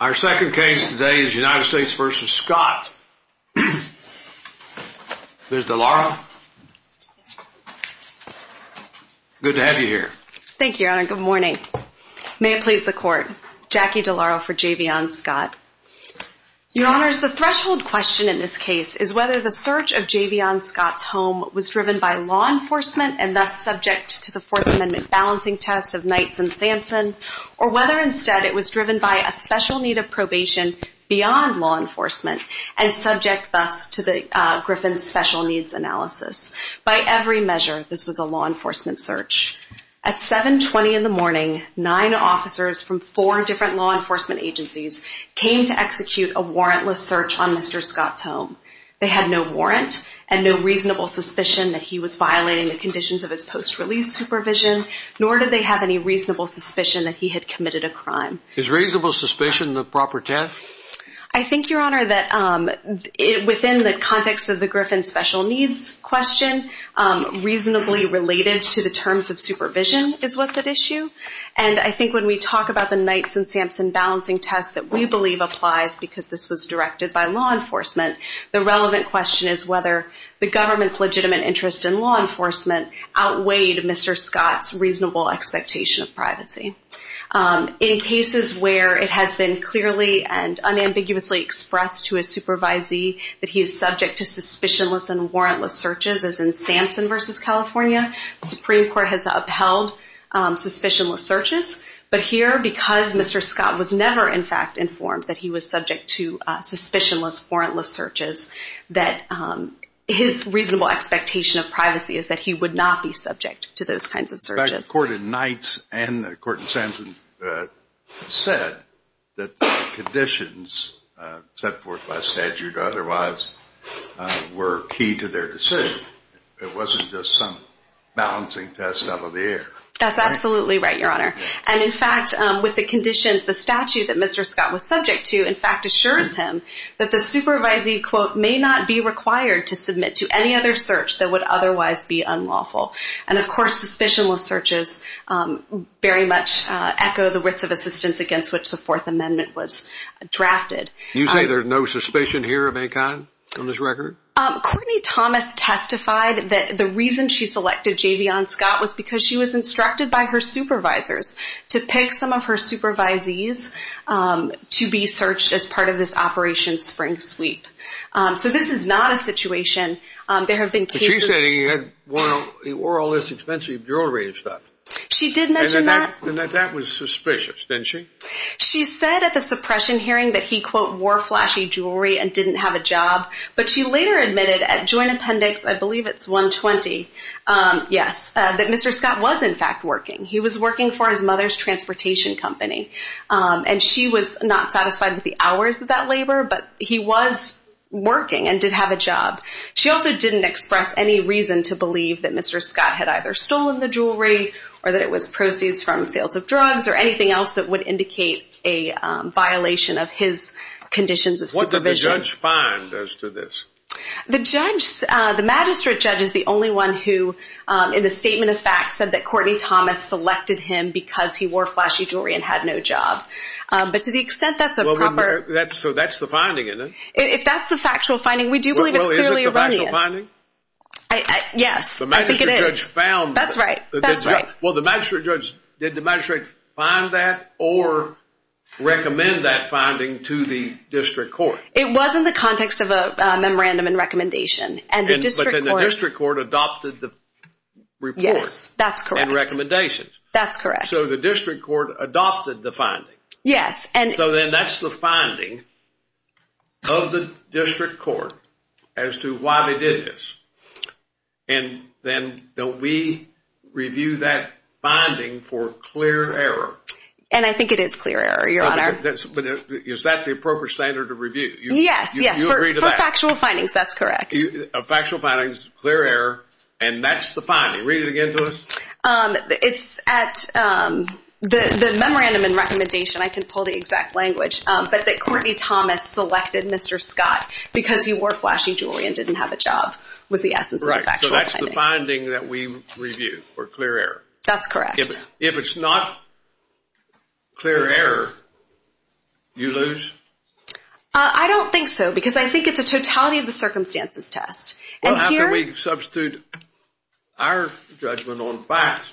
Our second case today is United States v. Scott. Ms. DeLauro, good to have you here. Thank you, Your Honor. Good morning. May it please the Court, Jackie DeLauro for Javion Scott. Your Honor, the threshold question in this case is whether the search of Javion Scott's home was driven by law enforcement and thus subject to the Fourth Amendment balancing test of Knights and Sampson, or whether instead it was driven by a special need of probation beyond law enforcement and subject thus to Griffin's special needs analysis. By every measure this was a law enforcement search. At 7.20 in the morning, nine officers from four different law enforcement agencies came to execute a warrantless search on Mr. Scott's home. They had no warrant and no reasonable suspicion that he was violating the conditions of his post-release supervision, nor did they have any reasonable suspicion that he had committed a crime. Is reasonable suspicion the proper test? I think, Your Honor, that within the context of the Griffin special needs question, reasonably related to the terms of supervision is what's at issue. And I think when we talk about the Knights and Sampson balancing test that we believe applies because this was directed by law enforcement, the relevant question is whether the government's legitimate interest in law enforcement outweighed Mr. Scott's reasonable expectation of privacy. In cases where it has been clearly and unambiguously expressed to a supervisee that he is subject to suspicionless and warrantless searches, as in Sampson v. California, the Supreme Court has upheld suspicionless searches. But here because Mr. Scott was never in fact informed that he was subject to suspicionless warrantless searches, that his reasonable expectation of privacy is that he would not be subject to those kinds of searches. In fact, the court in Knights and the court in Sampson said that the conditions set forth by statute otherwise were key to their decision. It wasn't just some balancing test out of the air. That's absolutely right, Your Honor. And in fact, with the conditions, the statute that Mr. Scott was subject to in fact assures him that the supervisee, quote, may not be required to submit to any other search that would otherwise be unlawful. And of course, suspicionless searches very much echo the writs of assistance against which the Fourth Amendment was drafted. You say there's no suspicion here of any kind on this record? Courtney Thomas testified that the reason she selected J.B. Ann Scott was because she was instructed by her supervisors to pick some of her supervisees to be searched as part of this Operation Spring Sweep. So this is not a situation. There have been cases... But she said he wore all this expensive jewelry and stuff. She did mention that. And that was suspicious, didn't she? She said at the suppression hearing that he, quote, wore flashy jewelry and didn't have a job. But she later admitted at Joint Appendix, I believe it's 120, yes, that Mr. Scott was in fact working. He was working for his mother's transportation company. And she was not satisfied with the hours of that labor, but he was working and did have a job. She also didn't express any reason to believe that Mr. Scott had either stolen the jewelry or that it was proceeds from sales of drugs or anything else that would indicate a violation of his conditions of supervision. What did the judge find as to this? The judge, the magistrate judge is the only one who, in the statement of fact, said that Courtney Thomas selected him because he wore flashy jewelry and had no job. But to the So that's the finding, isn't it? If that's the factual finding, we do believe it's clearly erroneous. Well, is it the factual finding? Yes, I think it is. The magistrate judge found that. That's right. That's right. Well, the magistrate judge, did the magistrate find that or recommend that finding to the district court? It was in the context of a memorandum and recommendation. But then the district court adopted the report. Yes, that's correct. And recommendations. That's correct. So the district court adopted the finding. Yes. So then that's the finding of the district court as to why they did this. And then don't we review that finding for clear error? And I think it is clear error, Your Honor. But is that the appropriate standard of review? Yes, yes. You agree to that? For factual findings, that's correct. Factual findings, clear error, and that's the finding. Read it again to us. It's at the memorandum and recommendation. I can pull the exact language. But that Courtney Thomas selected Mr. Scott because he wore flashy jewelry and didn't have a job was the essence of the factual finding. Right. So that's the finding that we review for clear error. That's correct. If it's not clear error, you lose? I don't think so because I think it's the totality of the circumstances test. Well, how can we substitute our judgment on facts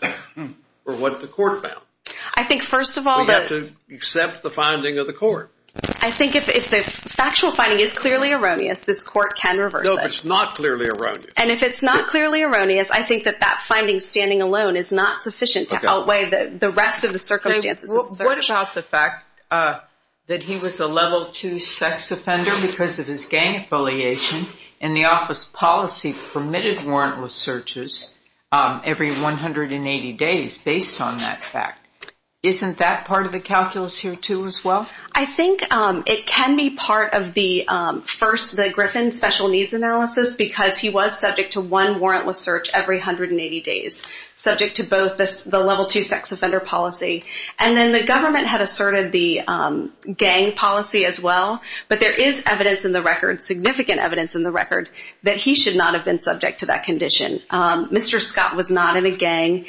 for what the court found? I think first of all that... We have to accept the finding of the court. I think if the factual finding is clearly erroneous, this court can reverse it. No, if it's not clearly erroneous. And if it's not clearly erroneous, I think that that finding standing alone is not sufficient to outweigh the rest of the circumstances of the search. What about the fact that he was a level 2 sex offender because of his gang affiliation and the office policy permitted warrantless searches every 180 days based on that fact. Isn't that part of the calculus here too as well? I think it can be part of the first, the Griffin special needs analysis because he was subject to one warrantless search every 180 days, subject to both the level 2 sex offender policy. And then the government had asserted the gang policy as well. But there is evidence in the record, significant evidence in the record, that he should not have been subject to that condition. Mr. Scott was not in a gang.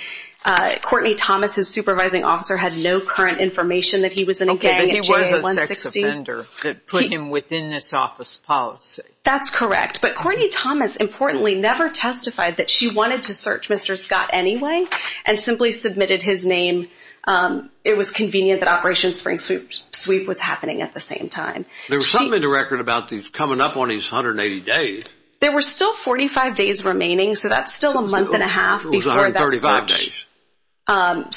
Courtney Thomas, his supervising officer, had no current information that he was in a gang. Okay, but he was a sex offender that put him within this office policy. That's correct. But Courtney Thomas, importantly, never testified that she wanted to search Mr. Scott anyway and simply submitted his name. It was convenient that Operation Spring Sweep was happening at the same time. There was something in the record about these coming up on these 180 days. There were still 45 days remaining, so that's still a month and a half before that search. It was 135 days.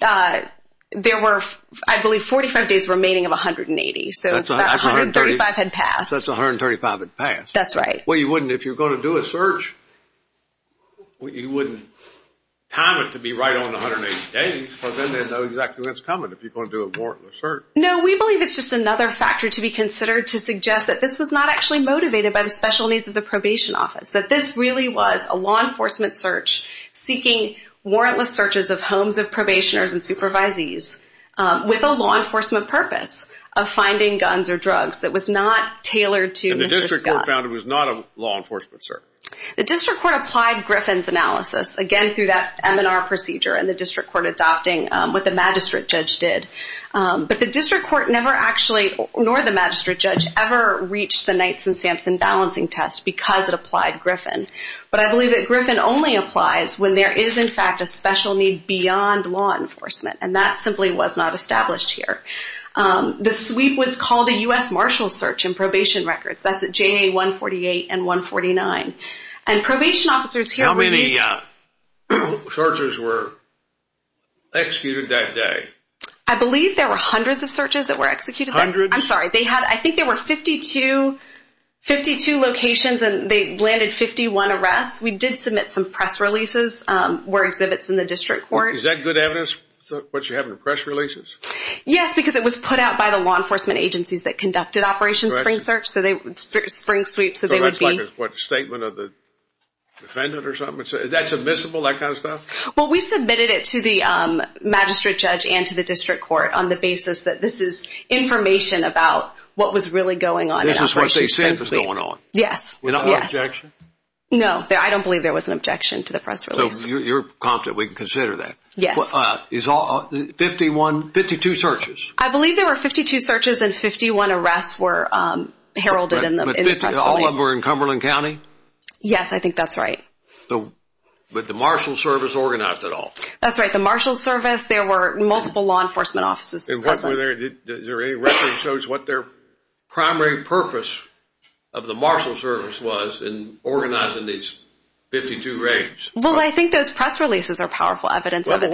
So there were, I believe, 45 days remaining of 180. So that's 135 had passed. That's 135 had passed. That's right. Well, you wouldn't, if you're going to do a search, you wouldn't time it to be right on 180 days, but then they'd know exactly when it's coming if you're going to do a warrantless search. No, we believe it's just another factor to be considered to suggest that this was not actually motivated by the special needs of the probation office, that this really was a law enforcement search seeking warrantless searches of homes of probationers and supervisees with a law enforcement purpose of finding guns or drugs that was not tailored to Mr. Scott. The district court found it was not a law enforcement search. The district court applied Griffin's analysis, again, through that M&R procedure and the district court adopting what the magistrate judge did. But the district court never actually, nor the magistrate judge, ever reached the Knights and Sampson balancing test because it applied Griffin. But I believe that Griffin only applies when there is, in fact, a special need beyond law enforcement, and that simply was not established here. The sweep was called a U.S. Marshall search in probation records. That's at JA 148 and 149. And probation officers here... How many searches were executed that day? I believe there were hundreds of searches that were executed that day. Hundreds? I'm sorry. I think there were 52 locations and they landed 51 arrests. We did submit some press releases where exhibits in the district court... Is that good evidence, what you have in the press releases? Yes, because it was put out by the law enforcement agencies that conducted Operation Spring Sweep. So that's like a statement of the defendant or something? Is that submissible, that kind of stuff? Well, we submitted it to the magistrate judge and to the district court on the basis that this is information about what was really going on in Operation Spring Sweep. This is what they said was going on? Yes. Was there an objection? No, I don't believe there was an objection to the press release. So you're confident we can consider that? Yes. Is all... 51... 52 searches? I believe there were 52 searches and 51 arrests were heralded in the press release. All of them were in Cumberland County? Yes, I think that's right. But the Marshal Service organized it all? That's right. The Marshal Service, there were multiple law enforcement offices. Is there any record that shows what their primary purpose of the Marshal Service was in organizing these 52 raids? Well, I think those press releases are powerful evidence of it.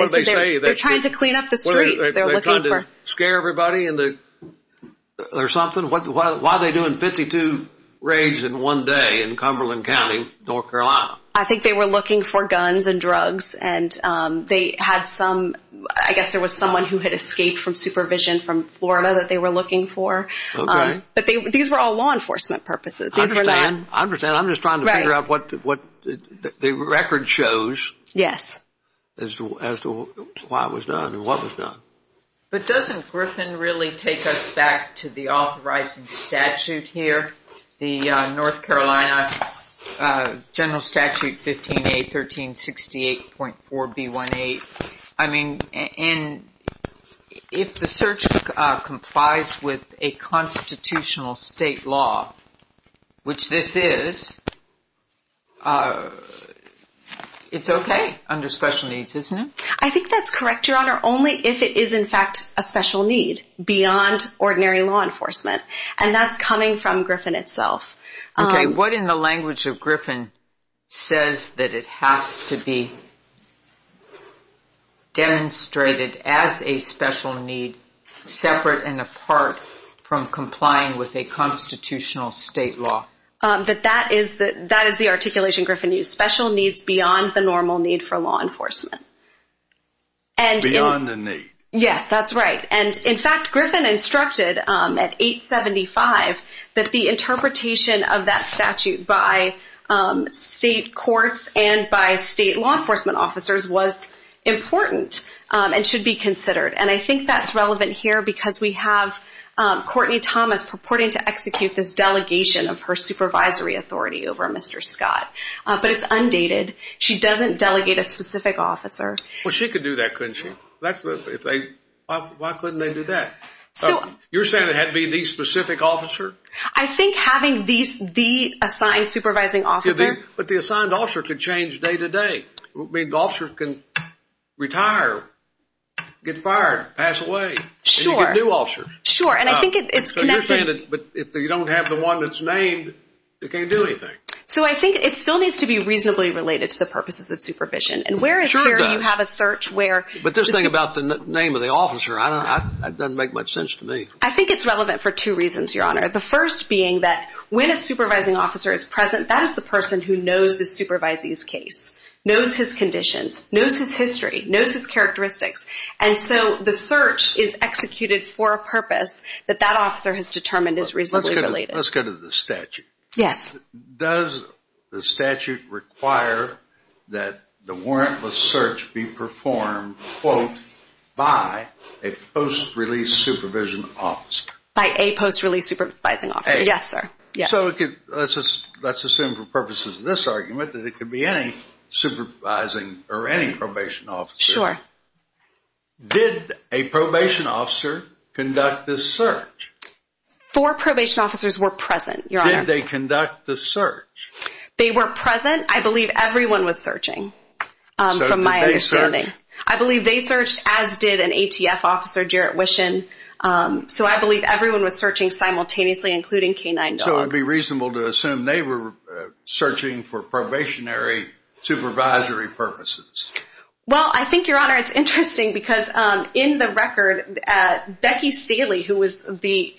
They're trying to clean up the streets. They're trying to scare everybody or something? Why are they doing 52 raids in one day in Cumberland County, North Carolina? I think they were looking for guns and drugs and they had some... I guess there was someone who had escaped from supervision from Florida that they were looking for. Okay. But these were all law enforcement purposes. I understand. I'm just trying to figure out what the record shows as to why it was done and what was done. But doesn't Griffin really take us back to the authorizing statute here, the North Carolina General Statute 15A 1368.4B18? I mean, if the search complies with a constitutional state law, which this is, it's okay under special needs, isn't it? I think that's correct, Your Honor. Only if it is, in fact, a special need beyond ordinary law enforcement. And that's coming from Griffin itself. Okay. What in the language of Griffin says that it has to be demonstrated as a special need separate and apart from complying with a constitutional state law? That is the articulation Griffin used. Special needs beyond the normal need for law enforcement. Beyond the need? Yes, that's right. And in fact, Griffin instructed at 875 that the interpretation of that statute by state courts and by state law enforcement officers was important and should be considered. And I think that's relevant here because we have Courtney Thomas purporting to execute this delegation of her supervisory authority over Mr. Scott. But it's undated. She doesn't delegate a specific officer. Well, she could do that, couldn't she? Why couldn't they do that? You're saying it had to be the specific officer? I think having the assigned supervising officer. But the assigned officer could change day to day. I mean, the officer can retire, get fired, pass away. Sure. And you get a new officer. Sure. And I think it's connected. So you're saying that if you don't have the one that's named, it can't do anything. So I think it still needs to be reasonably related to the purposes of supervision. And whereas here you have a search where... But this thing about the name of the officer, that doesn't make much sense to me. I think it's relevant for two reasons, Your Honor. The first being that when a supervising officer is present, that is the person who knows the supervisee's case, knows his conditions, knows his history, knows his characteristics. And so the search is executed for a purpose that that officer has determined is reasonably related. Let's go to the statute. Yes. And does the statute require that the warrantless search be performed, quote, by a post-release supervision officer? By a post-release supervising officer. Yes, sir. So let's assume for purposes of this argument that it could be any supervising or any probation officer. Sure. Did a probation officer conduct this search? Four probation officers were present, Your Honor. Did they conduct the search? They were present. I believe everyone was searching, from my understanding. So did they search? I believe they searched, as did an ATF officer, Jarrett Wishon. So I believe everyone was searching simultaneously, including canine dogs. So it would be reasonable to assume they were searching for probationary supervisory purposes. Well, I think, Your Honor, it's interesting because in the record, Becky Staley, who was the...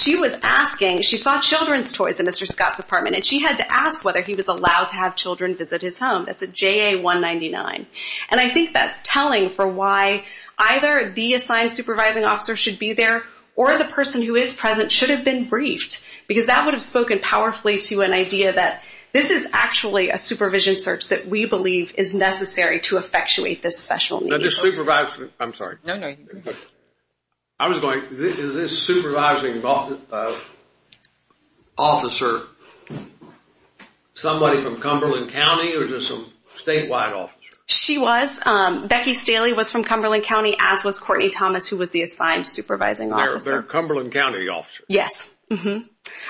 She was asking, she saw children's toys in Mr. Scott's apartment and she had to ask whether he was allowed to have children visit his home. That's a JA-199. And I think that's telling for why either the assigned supervising officer should be there or the person who is present should have been briefed because that would have spoken powerfully to an idea that this is actually a supervision search that we believe is necessary to effectuate this special need. Now this supervisor... I'm sorry. No, no. I was going, is this supervising officer somebody from Cumberland County or just some statewide officer? She was. Becky Staley was from Cumberland County, as was Courtney Thomas, who was the assigned supervising officer. They're Cumberland County officers. Yes.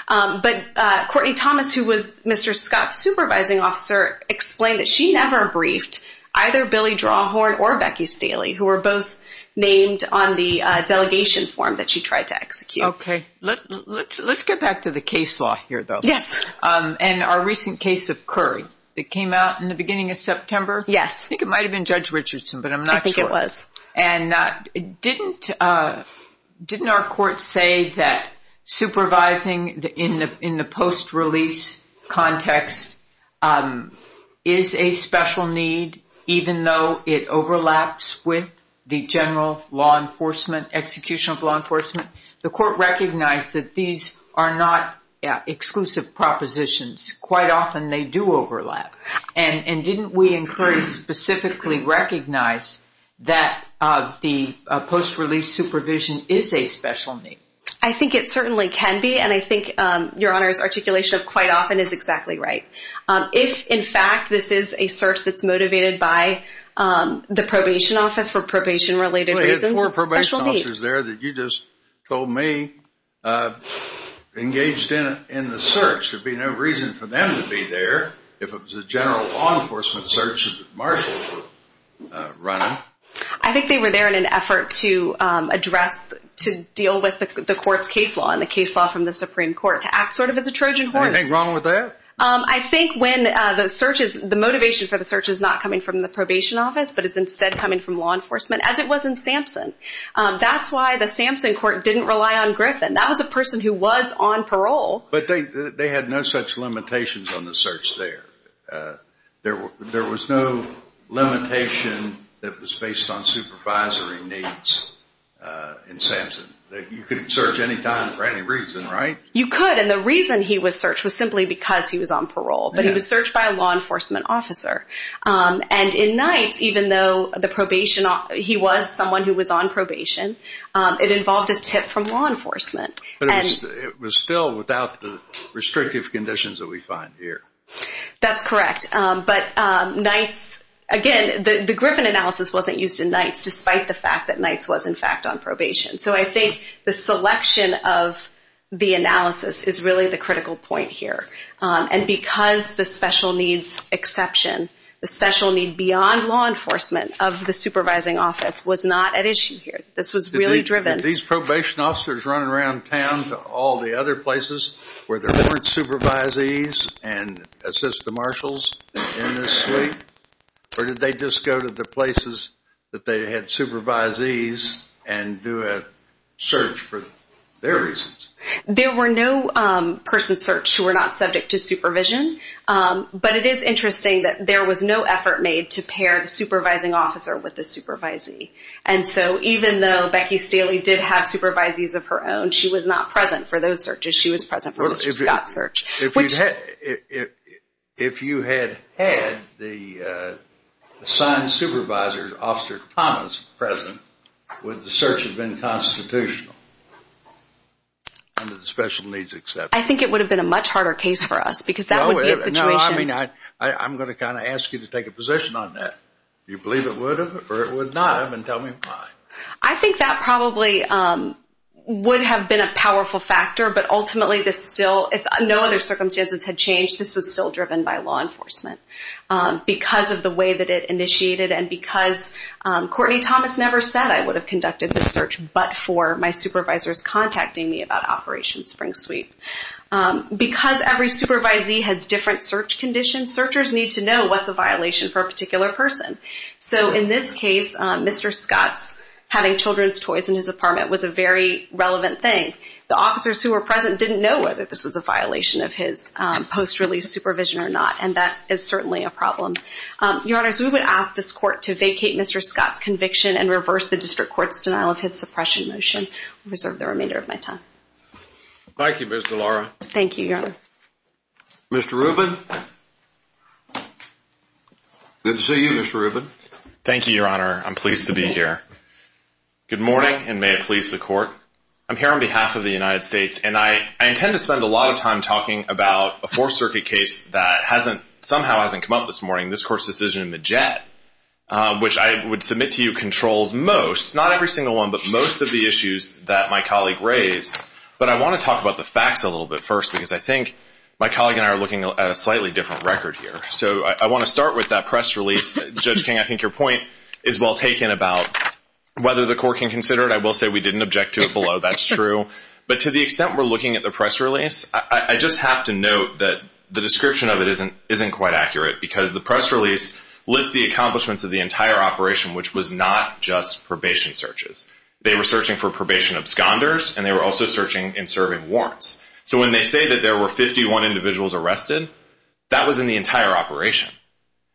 But Courtney Thomas, who was Mr. Scott's supervising officer, explained that she never briefed either Billy Drawhorn or Becky Staley, who were both named on the delegation form that she tried to execute. Okay. Let's get back to the case law here, though. Yes. And our recent case of Curry that came out in the beginning of September? Yes. I think it might have been Judge Richardson, but I'm not sure. I think it was. And didn't our court say that supervising in the post-release context is a special need even though it overlaps with the general law enforcement, execution of law enforcement? The court recognized that these are not exclusive propositions. Quite often they do overlap. And didn't we in Curry specifically recognize that the post-release supervision is a special need? I think it certainly can be, and I think Your Honor's articulation of quite often is exactly right. If, in fact, this is a search that's motivated by the probation office for probation-related reasons, it's a special need. Well, if four probation officers there that you just told me engaged in the search, there'd be no reason for them to be there if it was a general law enforcement search that marshals were running. I think they were there in an effort to address, to deal with the court's case law and the case law from the Supreme Court to act sort of as a Trojan horse. Anything wrong with that? I think when the search is, the motivation for the search is not coming from the probation office, but is instead coming from law enforcement, as it was in Sampson. That's why the Sampson court didn't rely on Griffin. That was a person who was on parole. But they had no such limitations on the search there. There was no limitation that was based on supervisory needs in Sampson. You couldn't search any time for any reason, right? You could, and the reason he was searched was simply because he was on parole, but he was searched by a law enforcement officer. And in Knights, even though he was someone who was on probation, it involved a tip from law enforcement. But it was still without the restrictive conditions that we find here. That's correct. But Knights, again, the Griffin analysis wasn't used in Knights despite the fact that Knights was, in fact, on probation. So I think the selection of the analysis is really the critical point here. And because the special needs exception, the special need beyond law enforcement of the supervising office, was not at issue here. This was really driven. Did these probation officers run around town to all the other places where there weren't supervisees and assistant marshals in this suite? Or did they just go to the places that they had supervisees and do a search for their reasons? There were no person searched who were not subject to supervision. But it is interesting that there was no effort made to pair the supervising officer with the supervisee. And so even though Becky Staley did have supervisees of her own, she was not present for those searches. She was present for Mr. Scott's search. If you had had the assigned supervisor, Officer Thomas, present, would the search have been constitutional under the special needs exception? I think it would have been a much harder case for us because that would be a situation. I'm going to kind of ask you to take a position on that. Do you believe it would have or it would not have, and tell me why. I think that probably would have been a powerful factor, but ultimately this still, if no other circumstances had changed, this was still driven by law enforcement because of the way that it initiated and because Courtney Thomas never said I would have conducted the search, but for my supervisors contacting me about Operation Spring Sweep. Because every supervisee has different search conditions, searchers need to know what's a violation for a particular person. So in this case, Mr. Scott's having children's toys in his apartment was a very relevant thing. The officers who were present didn't know whether this was a violation of his post-release supervision or not, and that is certainly a problem. Your Honor, so we would ask this court to vacate Mr. Scott's conviction and reverse the district court's denial of his suppression motion. I reserve the remainder of my time. Thank you, Ms. DeLauro. Thank you, Your Honor. Mr. Rubin. Good to see you, Mr. Rubin. Thank you, Your Honor. I'm pleased to be here. Good morning, and may it please the court. I'm here on behalf of the United States, and I intend to spend a lot of time talking about a Fourth Circuit case that somehow hasn't come up this morning, this court's decision in Majette, which I would submit to you controls most, not every single one, but most of the issues that my colleague raised. But I want to talk about the facts a little bit first, because I think my colleague and I are looking at a slightly different record here. So I want to start with that press release. Judge King, I think your point is well taken about whether the court can consider it. I will say we didn't object to it below, that's true. But to the extent we're looking at the press release, I just have to note that the description of it isn't quite accurate, because the press release lists the accomplishments of the entire operation, which was not just probation searches. They were searching for probation absconders, and they were also searching in serving warrants. So when they say that there were 51 individuals arrested, that was in the entire operation.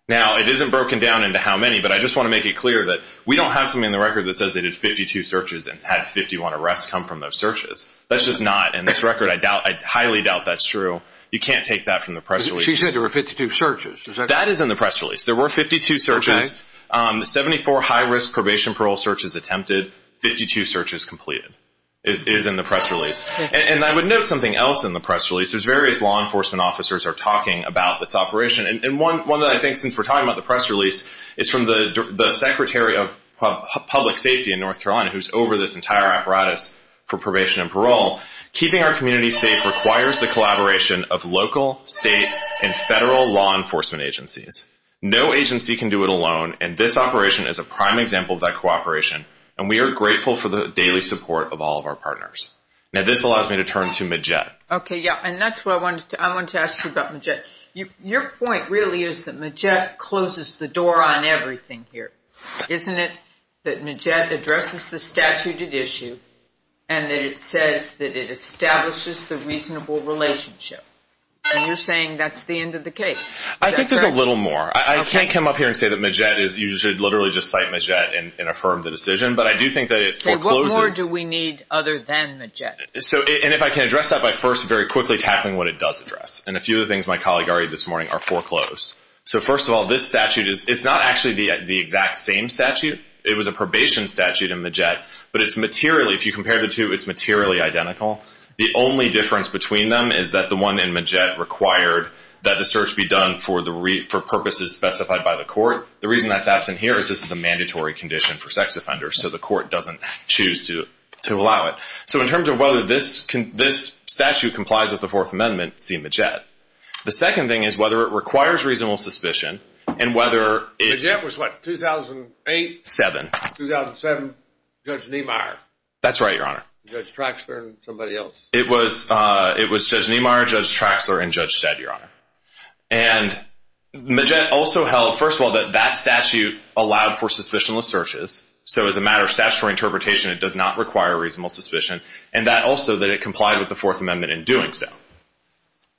Now, it isn't broken down into how many, but I just want to make it clear that we don't have something in the record that says they did 52 searches and had 51 arrests come from those searches. That's just not in this record. I highly doubt that's true. You can't take that from the press release. She said there were 52 searches. That is in the press release. There were 52 searches. The 74 high-risk probation parole searches attempted, 52 searches completed, is in the press release. And I would note something else in the press release. There's various law enforcement officers are talking about this operation. And one that I think, since we're talking about the press release, is from the Secretary of Public Safety in North Carolina, who's over this entire apparatus for probation and parole. Keeping our community safe requires the collaboration of local, state, and federal law enforcement agencies. No agency can do it alone, and this operation is a prime example of that cooperation, and we are grateful for the daily support of all of our partners. Now, this allows me to turn to Majette. Okay, yeah, and that's what I wanted to ask you about, Majette. Your point really is that Majette closes the door on everything here. Isn't it that Majette addresses the statute at issue and that it says that it establishes the reasonable relationship? And you're saying that's the end of the case. I think there's a little more. I can't come up here and say that Majette is, you should literally just cite Majette and affirm the decision, but I do think that it forecloses. Okay, what more do we need other than Majette? And if I can address that by first very quickly tackling what it does address, and a few of the things my colleague argued this morning are foreclosed. So first of all, this statute is not actually the exact same statute. It was a probation statute in Majette, but it's materially, if you compare the two, it's materially identical. The only difference between them is that the one in Majette required that the search be done for purposes specified by the court. The reason that's absent here is this is a mandatory condition for sex offenders, so the court doesn't choose to allow it. So in terms of whether this statute complies with the Fourth Amendment, see Majette. The second thing is whether it requires reasonable suspicion. Majette was what, 2008? 2007. 2007, Judge Niemeyer. That's right, Your Honor. Judge Traxler and somebody else. It was Judge Niemeyer, Judge Traxler, and Judge Sedd, Your Honor. And Majette also held, first of all, that that statute allowed for suspicionless searches, so as a matter of statutory interpretation, it does not require reasonable suspicion, and that also that it complied with the Fourth Amendment in doing so.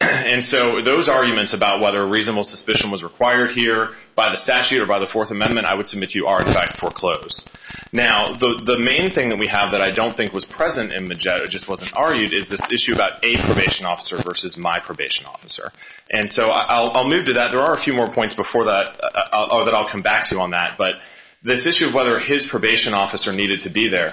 And so those arguments about whether reasonable suspicion was required here by the statute or by the Fourth Amendment, I would submit to you are, in fact, foreclosed. Now, the main thing that we have that I don't think was present in Majette, it just wasn't argued, is this issue about a probation officer versus my probation officer. And so I'll move to that. There are a few more points before that that I'll come back to on that, but this issue of whether his probation officer needed to be there,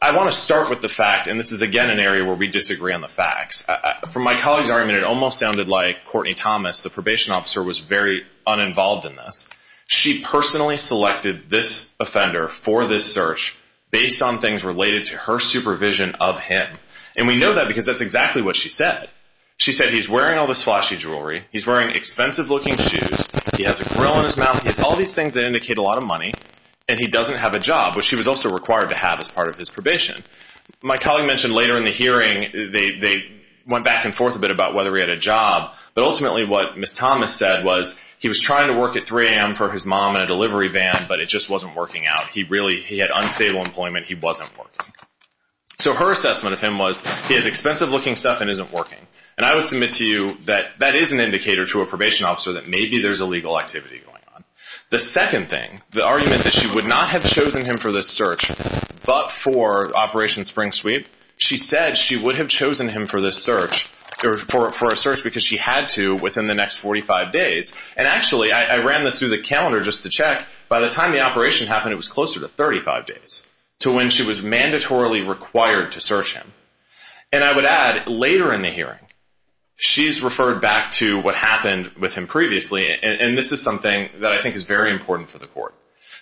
I want to start with the fact, and this is, again, an area where we disagree on the facts. From my colleague's argument, it almost sounded like Courtney Thomas, the probation officer, was very uninvolved in this. She personally selected this offender for this search based on things related to her supervision of him. And we know that because that's exactly what she said. She said he's wearing all this flashy jewelry, he's wearing expensive-looking shoes, he has a grill in his mouth, he has all these things that indicate a lot of money, and he doesn't have a job, which he was also required to have as part of his probation. My colleague mentioned later in the hearing they went back and forth a bit about whether he had a job, but ultimately what Ms. Thomas said was he was trying to work at 3 a.m. for his mom in a delivery van, but it just wasn't working out. He had unstable employment, he wasn't working. So her assessment of him was he has expensive-looking stuff and isn't working. And I would submit to you that that is an indicator to a probation officer that maybe there's illegal activity going on. The second thing, the argument that she would not have chosen him for this search, but for Operation Spring Sweep, she said she would have chosen him for this search, or for a search because she had to within the next 45 days. And actually, I ran this through the calendar just to check, by the time the operation happened it was closer to 35 days to when she was mandatorily required to search him. And I would add, later in the hearing she's referred back to what happened with him previously, and this is something that I think is very important for the court.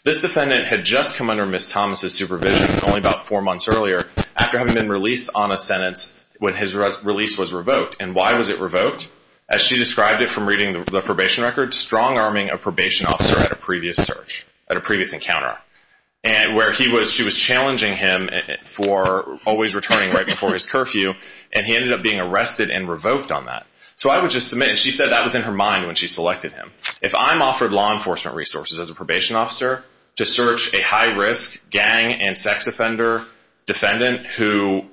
This defendant had just come under Ms. Thomas' supervision, only about four months earlier, after having been released on a sentence when his release was revoked. And why was it revoked? As she described it from reading the probation record, strong-arming a probation officer at a previous search, at a previous encounter, where she was challenging him for always returning right before his curfew, and he ended up being arrested and revoked on that. So I would just submit, and she said that was in her mind when she selected him, if I'm offered law enforcement resources as a probation officer to search a high-risk gang and sex offender defendant who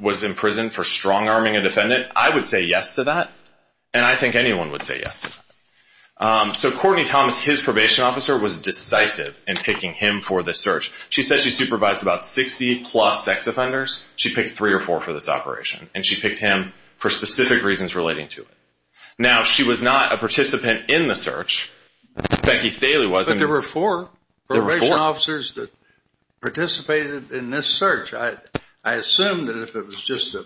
was in prison for strong-arming a defendant, I would say yes to that, and I think anyone would say yes to that. So Courtney Thomas, his probation officer, was decisive in picking him for this search. She said she supervised about 60-plus sex offenders. She picked three or four for this operation, and she picked him for specific reasons relating to it. Now, she was not a participant in the search. Becky Staley was. But there were four probation officers that participated in this search. I assume that if it was just a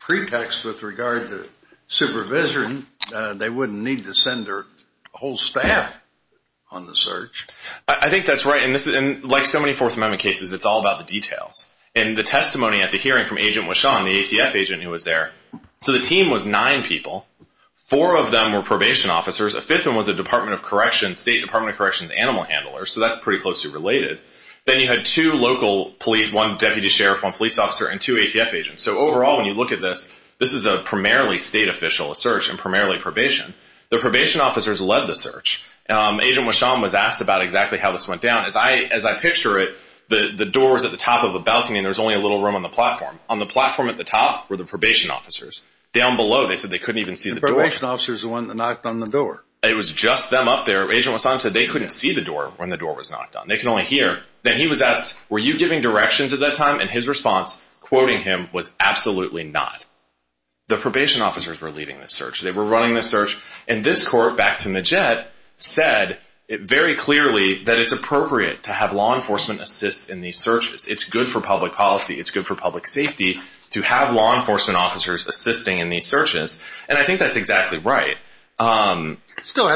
pretext with regard to supervision, they wouldn't need to send their whole staff on the search. I think that's right. And like so many Fourth Amendment cases, it's all about the details. And the testimony at the hearing from Agent Wishon, the ATF agent who was there, so the team was nine people. Four of them were probation officers. A fifth of them was a State Department of Corrections animal handler, so that's pretty closely related. Then you had two local police, one deputy sheriff, one police officer, and two ATF agents. So overall, when you look at this, this is a primarily state official search and primarily probation. The probation officers led the search. Agent Wishon was asked about exactly how this went down. As I picture it, the door was at the top of a balcony and there was only a little room on the platform. On the platform at the top were the probation officers. Down below, they said they couldn't even see the door. The probation officers were the ones that knocked on the door. It was just them up there. Agent Wishon said they couldn't see the door when the door was knocked on. They could only hear. Then he was asked, were you giving directions at that time? His response, quoting him, was absolutely not. The probation officers were leading the search. They were running the search. This court, back to Majette, said very clearly that it's appropriate to have law enforcement assist in these searches. It's good for public policy. It's good for public safety to have law enforcement officers assisting in these searches. I think that's exactly right. Yes, Your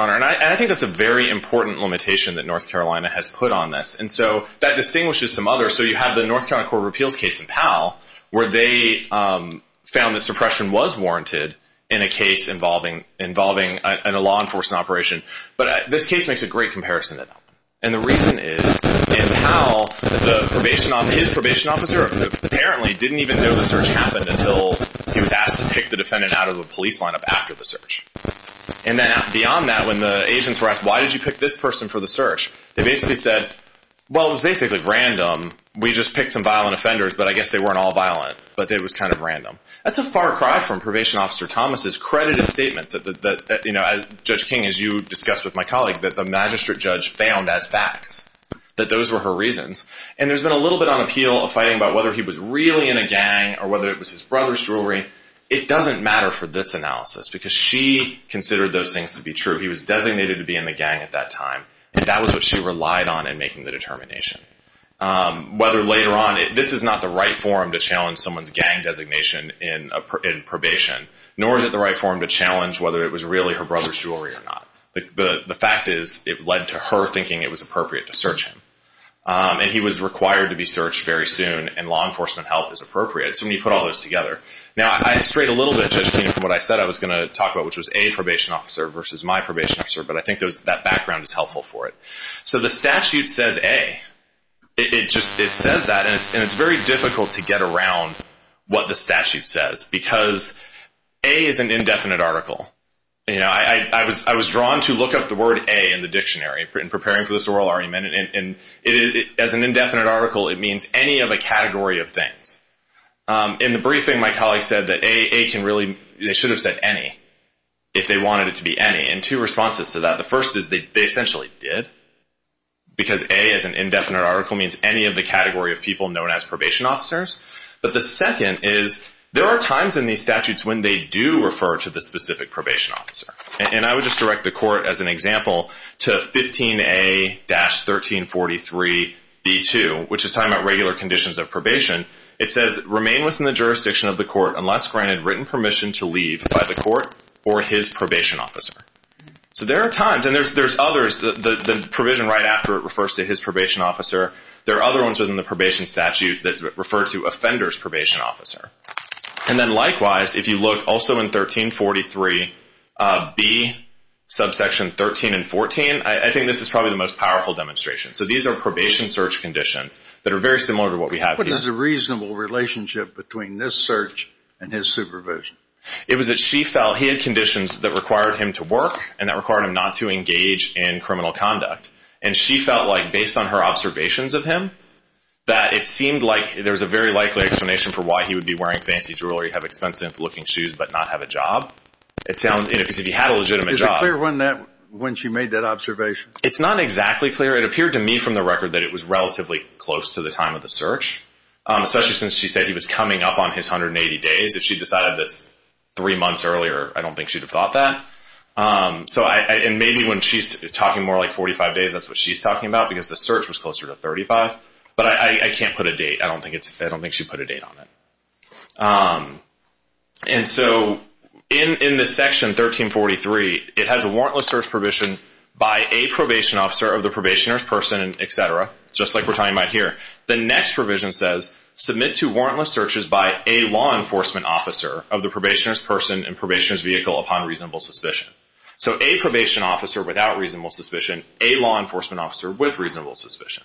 Honor. I think that's a very important limitation that North Carolina has put on this. That distinguishes some others. You have the North Carolina Court of Appeals case in Powell where they found that suppression was warranted in a case involving a law enforcement operation. This case makes a great comparison to that. The reason is, in Powell, his probation officer apparently didn't even know the search happened until he was asked to pick the defendant out of the police lineup after the search. Beyond that, when the agents were asked, why did you pick this person for the search? They basically said, well, it was basically random. We just picked some violent offenders, but I guess they weren't all violent, but it was kind of random. That's a far cry from probation officer Thomas's credited statements that Judge King, as you discussed with my colleague, that the magistrate judge found as facts, that those were her reasons. There's been a little bit on appeal of fighting about whether he was really in a gang or whether it was his brother's jewelry. It doesn't matter for this analysis because she considered those things to be true. He was designated to be in the gang at that time, and that was what she relied on in making the determination. Whether later on, this is not the right forum to challenge someone's gang designation in probation, nor is it the right forum to challenge whether it was really her brother's jewelry or not. The fact is, it led to her thinking it was appropriate to search him, and he was required to be searched very soon, and law enforcement help is appropriate. So we put all those together. Now, I strayed a little bit, Judge King, from what I said I was going to talk about, which was a probation officer versus my probation officer, but I think that background is helpful for it. So the statute says A. It says that, and it's very difficult to get around what the statute says because A is an indefinite article. I was drawn to look up the word A in the dictionary in preparing for this oral argument, and as an indefinite article, it means any of a category of things. In the briefing, my colleague said that they should have said any if they wanted it to be any, and two responses to that. The first is they essentially did, because A as an indefinite article means any of the category of people known as probation officers. But the second is there are times in these statutes when they do refer to the specific probation officer, and I would just direct the court, as an example, to 15A-1343b2, which is talking about regular conditions of probation. It says, remain within the jurisdiction of the court unless granted written permission to leave by the court or his probation officer. So there are times, and there's others. The provision right after it refers to his probation officer. There are other ones within the probation statute that refer to offender's probation officer. And then likewise, if you look also in 1343b, subsection 13 and 14, I think this is probably the most powerful demonstration. So these are probation search conditions that are very similar to what we have here. What is the reasonable relationship between this search and his supervision? It was that she felt he had conditions that required him to work and that required him not to engage in criminal conduct, and she felt like, based on her observations of him, that it seemed like there was a very likely explanation for why he would be wearing fancy jewelry, have expensive-looking shoes, but not have a job. Because if he had a legitimate job. Is it clear when she made that observation? It's not exactly clear. It appeared to me from the record that it was relatively close to the time of the search, especially since she said he was coming up on his 180 days. If she decided this three months earlier, I don't think she'd have thought that. And maybe when she's talking more like 45 days, that's what she's talking about, because the search was closer to 35. But I can't put a date. I don't think she put a date on it. And so in this section, 1343, it has a warrantless search provision by a probation officer of the probationer's person, et cetera, just like we're talking about here. The next provision says, submit to warrantless searches by a law enforcement officer of the probationer's person and probationer's vehicle upon reasonable suspicion. So a probation officer without reasonable suspicion, a law enforcement officer with reasonable suspicion.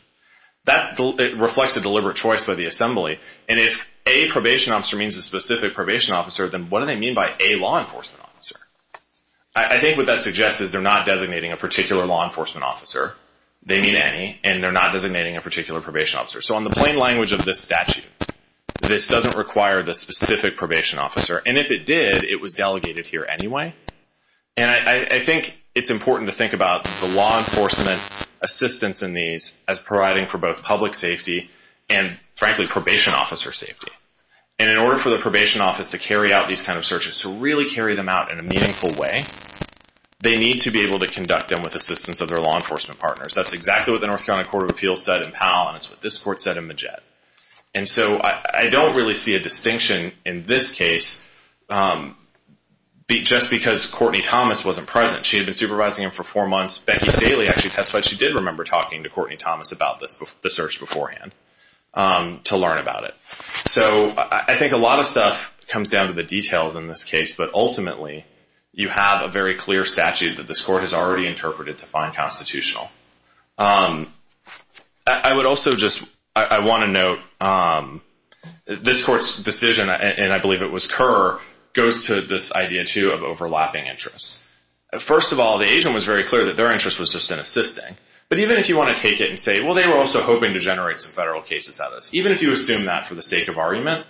That reflects a deliberate choice by the assembly. And if a probation officer means a specific probation officer, then what do they mean by a law enforcement officer? I think what that suggests is they're not designating a particular law enforcement officer. They mean any, and they're not designating a particular probation officer. So on the plain language of this statute, this doesn't require the specific probation officer. And if it did, it was delegated here anyway. And I think it's important to think about the law enforcement assistance in these as providing for both public safety and, frankly, probation officer safety. And in order for the probation office to carry out these kind of searches, to really carry them out in a meaningful way, they need to be able to conduct them with assistance of their law enforcement partners. That's exactly what the North Carolina Court of Appeals said in Powell, and it's what this court said in Majette. And so I don't really see a distinction in this case just because Courtney Thomas wasn't present. She had been supervising him for four months. Becky Staley actually testified she did remember talking to Courtney Thomas about the search beforehand to learn about it. So I think a lot of stuff comes down to the details in this case, but ultimately you have a very clear statute that this court has already interpreted to find constitutional. I would also just, I want to note this court's decision, and I believe it was Kerr, goes to this idea, too, of overlapping interests. First of all, the agent was very clear that their interest was just in assisting. But even if you want to take it and say, well, they were also hoping to generate some federal cases out of this, even if you assume that for the sake of argument,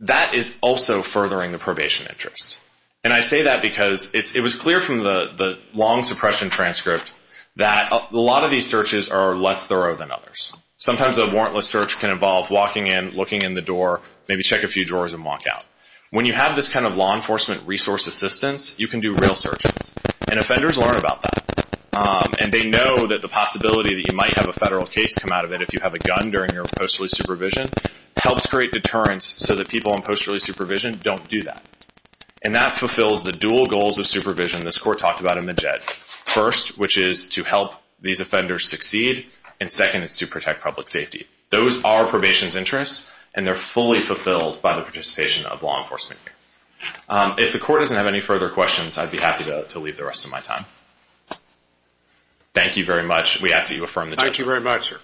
that is also furthering the probation interest. And I say that because it was clear from the long suppression transcript that a lot of these searches are less thorough than others. Sometimes a warrantless search can involve walking in, looking in the door, maybe check a few drawers and walk out. When you have this kind of law enforcement resource assistance, you can do real searches, and offenders learn about that. And they know that the possibility that you might have a federal case come out of it if you have a gun during your post release supervision helps create deterrence so that people in post release supervision don't do that. And that fulfills the dual goals of supervision this court talked about in the JED. First, which is to help these offenders succeed, and second is to protect public safety. Those are probation's interests, and they're fully fulfilled by the participation of law enforcement. If the court doesn't have any further questions, I'd be happy to leave the rest of my time. Thank you very much. We ask that you affirm the judgment. Thank you very much, sir.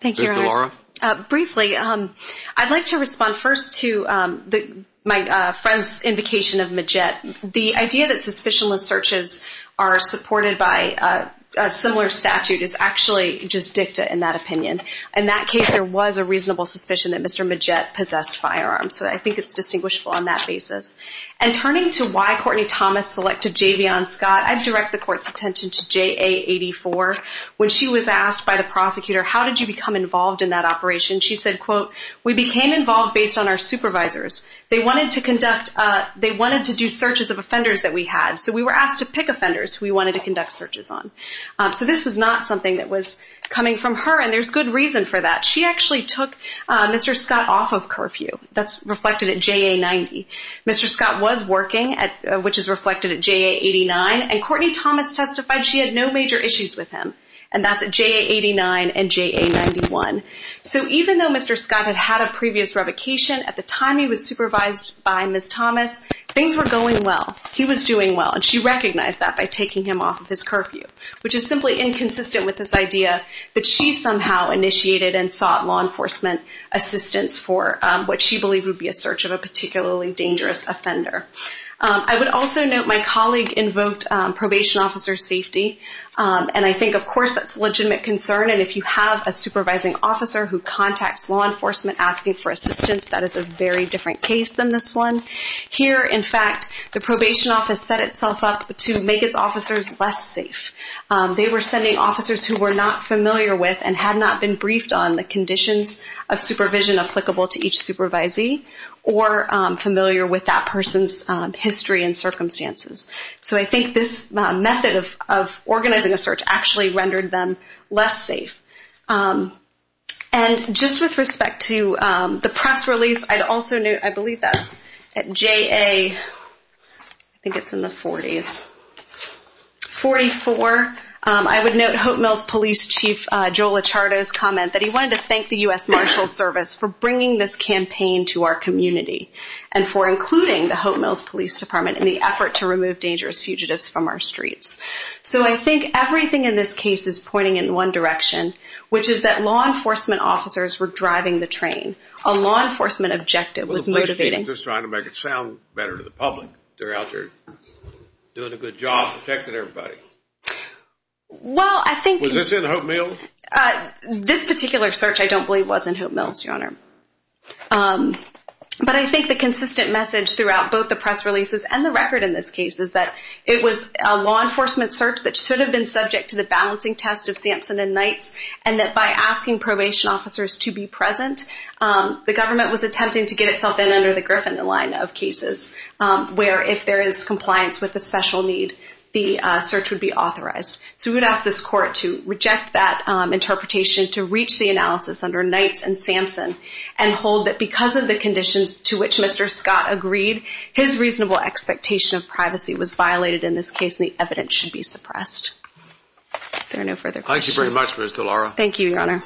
Thank you. My friend's invocation of Majette. The idea that suspicionless searches are supported by a similar statute is actually just dicta in that opinion. In that case, there was a reasonable suspicion that Mr. Majette possessed firearms, so I think it's distinguishable on that basis. And turning to why Courtney Thomas selected JV on Scott, I'd direct the court's attention to JA84. When she was asked by the prosecutor, how did you become involved in that operation, she said, quote, we became involved based on our supervisors. They wanted to do searches of offenders that we had, so we were asked to pick offenders we wanted to conduct searches on. So this was not something that was coming from her, and there's good reason for that. She actually took Mr. Scott off of curfew. That's reflected at JA90. Mr. Scott was working, which is reflected at JA89, and Courtney Thomas testified she had no major issues with him, and that's at JA89 and JA91. So even though Mr. Scott had had a previous revocation, at the time he was supervised by Ms. Thomas, things were going well. He was doing well, and she recognized that by taking him off of his curfew, which is simply inconsistent with this idea that she somehow initiated and sought law enforcement assistance for what she believed would be a search of a particularly dangerous offender. I would also note my colleague invoked probation officer safety, and I think, of course, that's a legitimate concern, and if you have a supervising officer who contacts law enforcement asking for assistance, that is a very different case than this one. Here, in fact, the probation office set itself up to make its officers less safe. They were sending officers who were not familiar with and had not been briefed on the conditions of supervision applicable to each supervisee or familiar with that person's history and circumstances. So I think this method of organizing a search actually rendered them less safe. And just with respect to the press release, I'd also note, I believe that's at JA, I think it's in the 40s, 44, I would note Hope Mills Police Chief Joel Echardo's comment that he wanted to thank the U.S. Marshals Service for bringing this campaign to our community and for including the Hope Mills Police Department in the effort to remove dangerous fugitives from our streets. So I think everything in this case is pointing in one direction, which is that law enforcement officers were driving the train. A law enforcement objective was motivating. Well, the police chief was just trying to make it sound better to the public. They're out there doing a good job protecting everybody. Well, I think – Was this in Hope Mills? This particular search, I don't believe, was in Hope Mills, Your Honor. But I think the consistent message throughout both the press releases and the record in this case is that it was a law enforcement search that should have been subject to the balancing test of Sampson and Knights, and that by asking probation officers to be present, the government was attempting to get itself in under the Griffin line of cases, where if there is compliance with the special need, the search would be authorized. So we would ask this court to reject that interpretation, to reach the analysis under Knights and Sampson, and hold that because of the conditions to which Mr. Scott agreed, his reasonable expectation of privacy was violated in this case, and the evidence should be suppressed. If there are no further questions. Thank you very much, Ms. DeLauro. Thank you, Your Honor.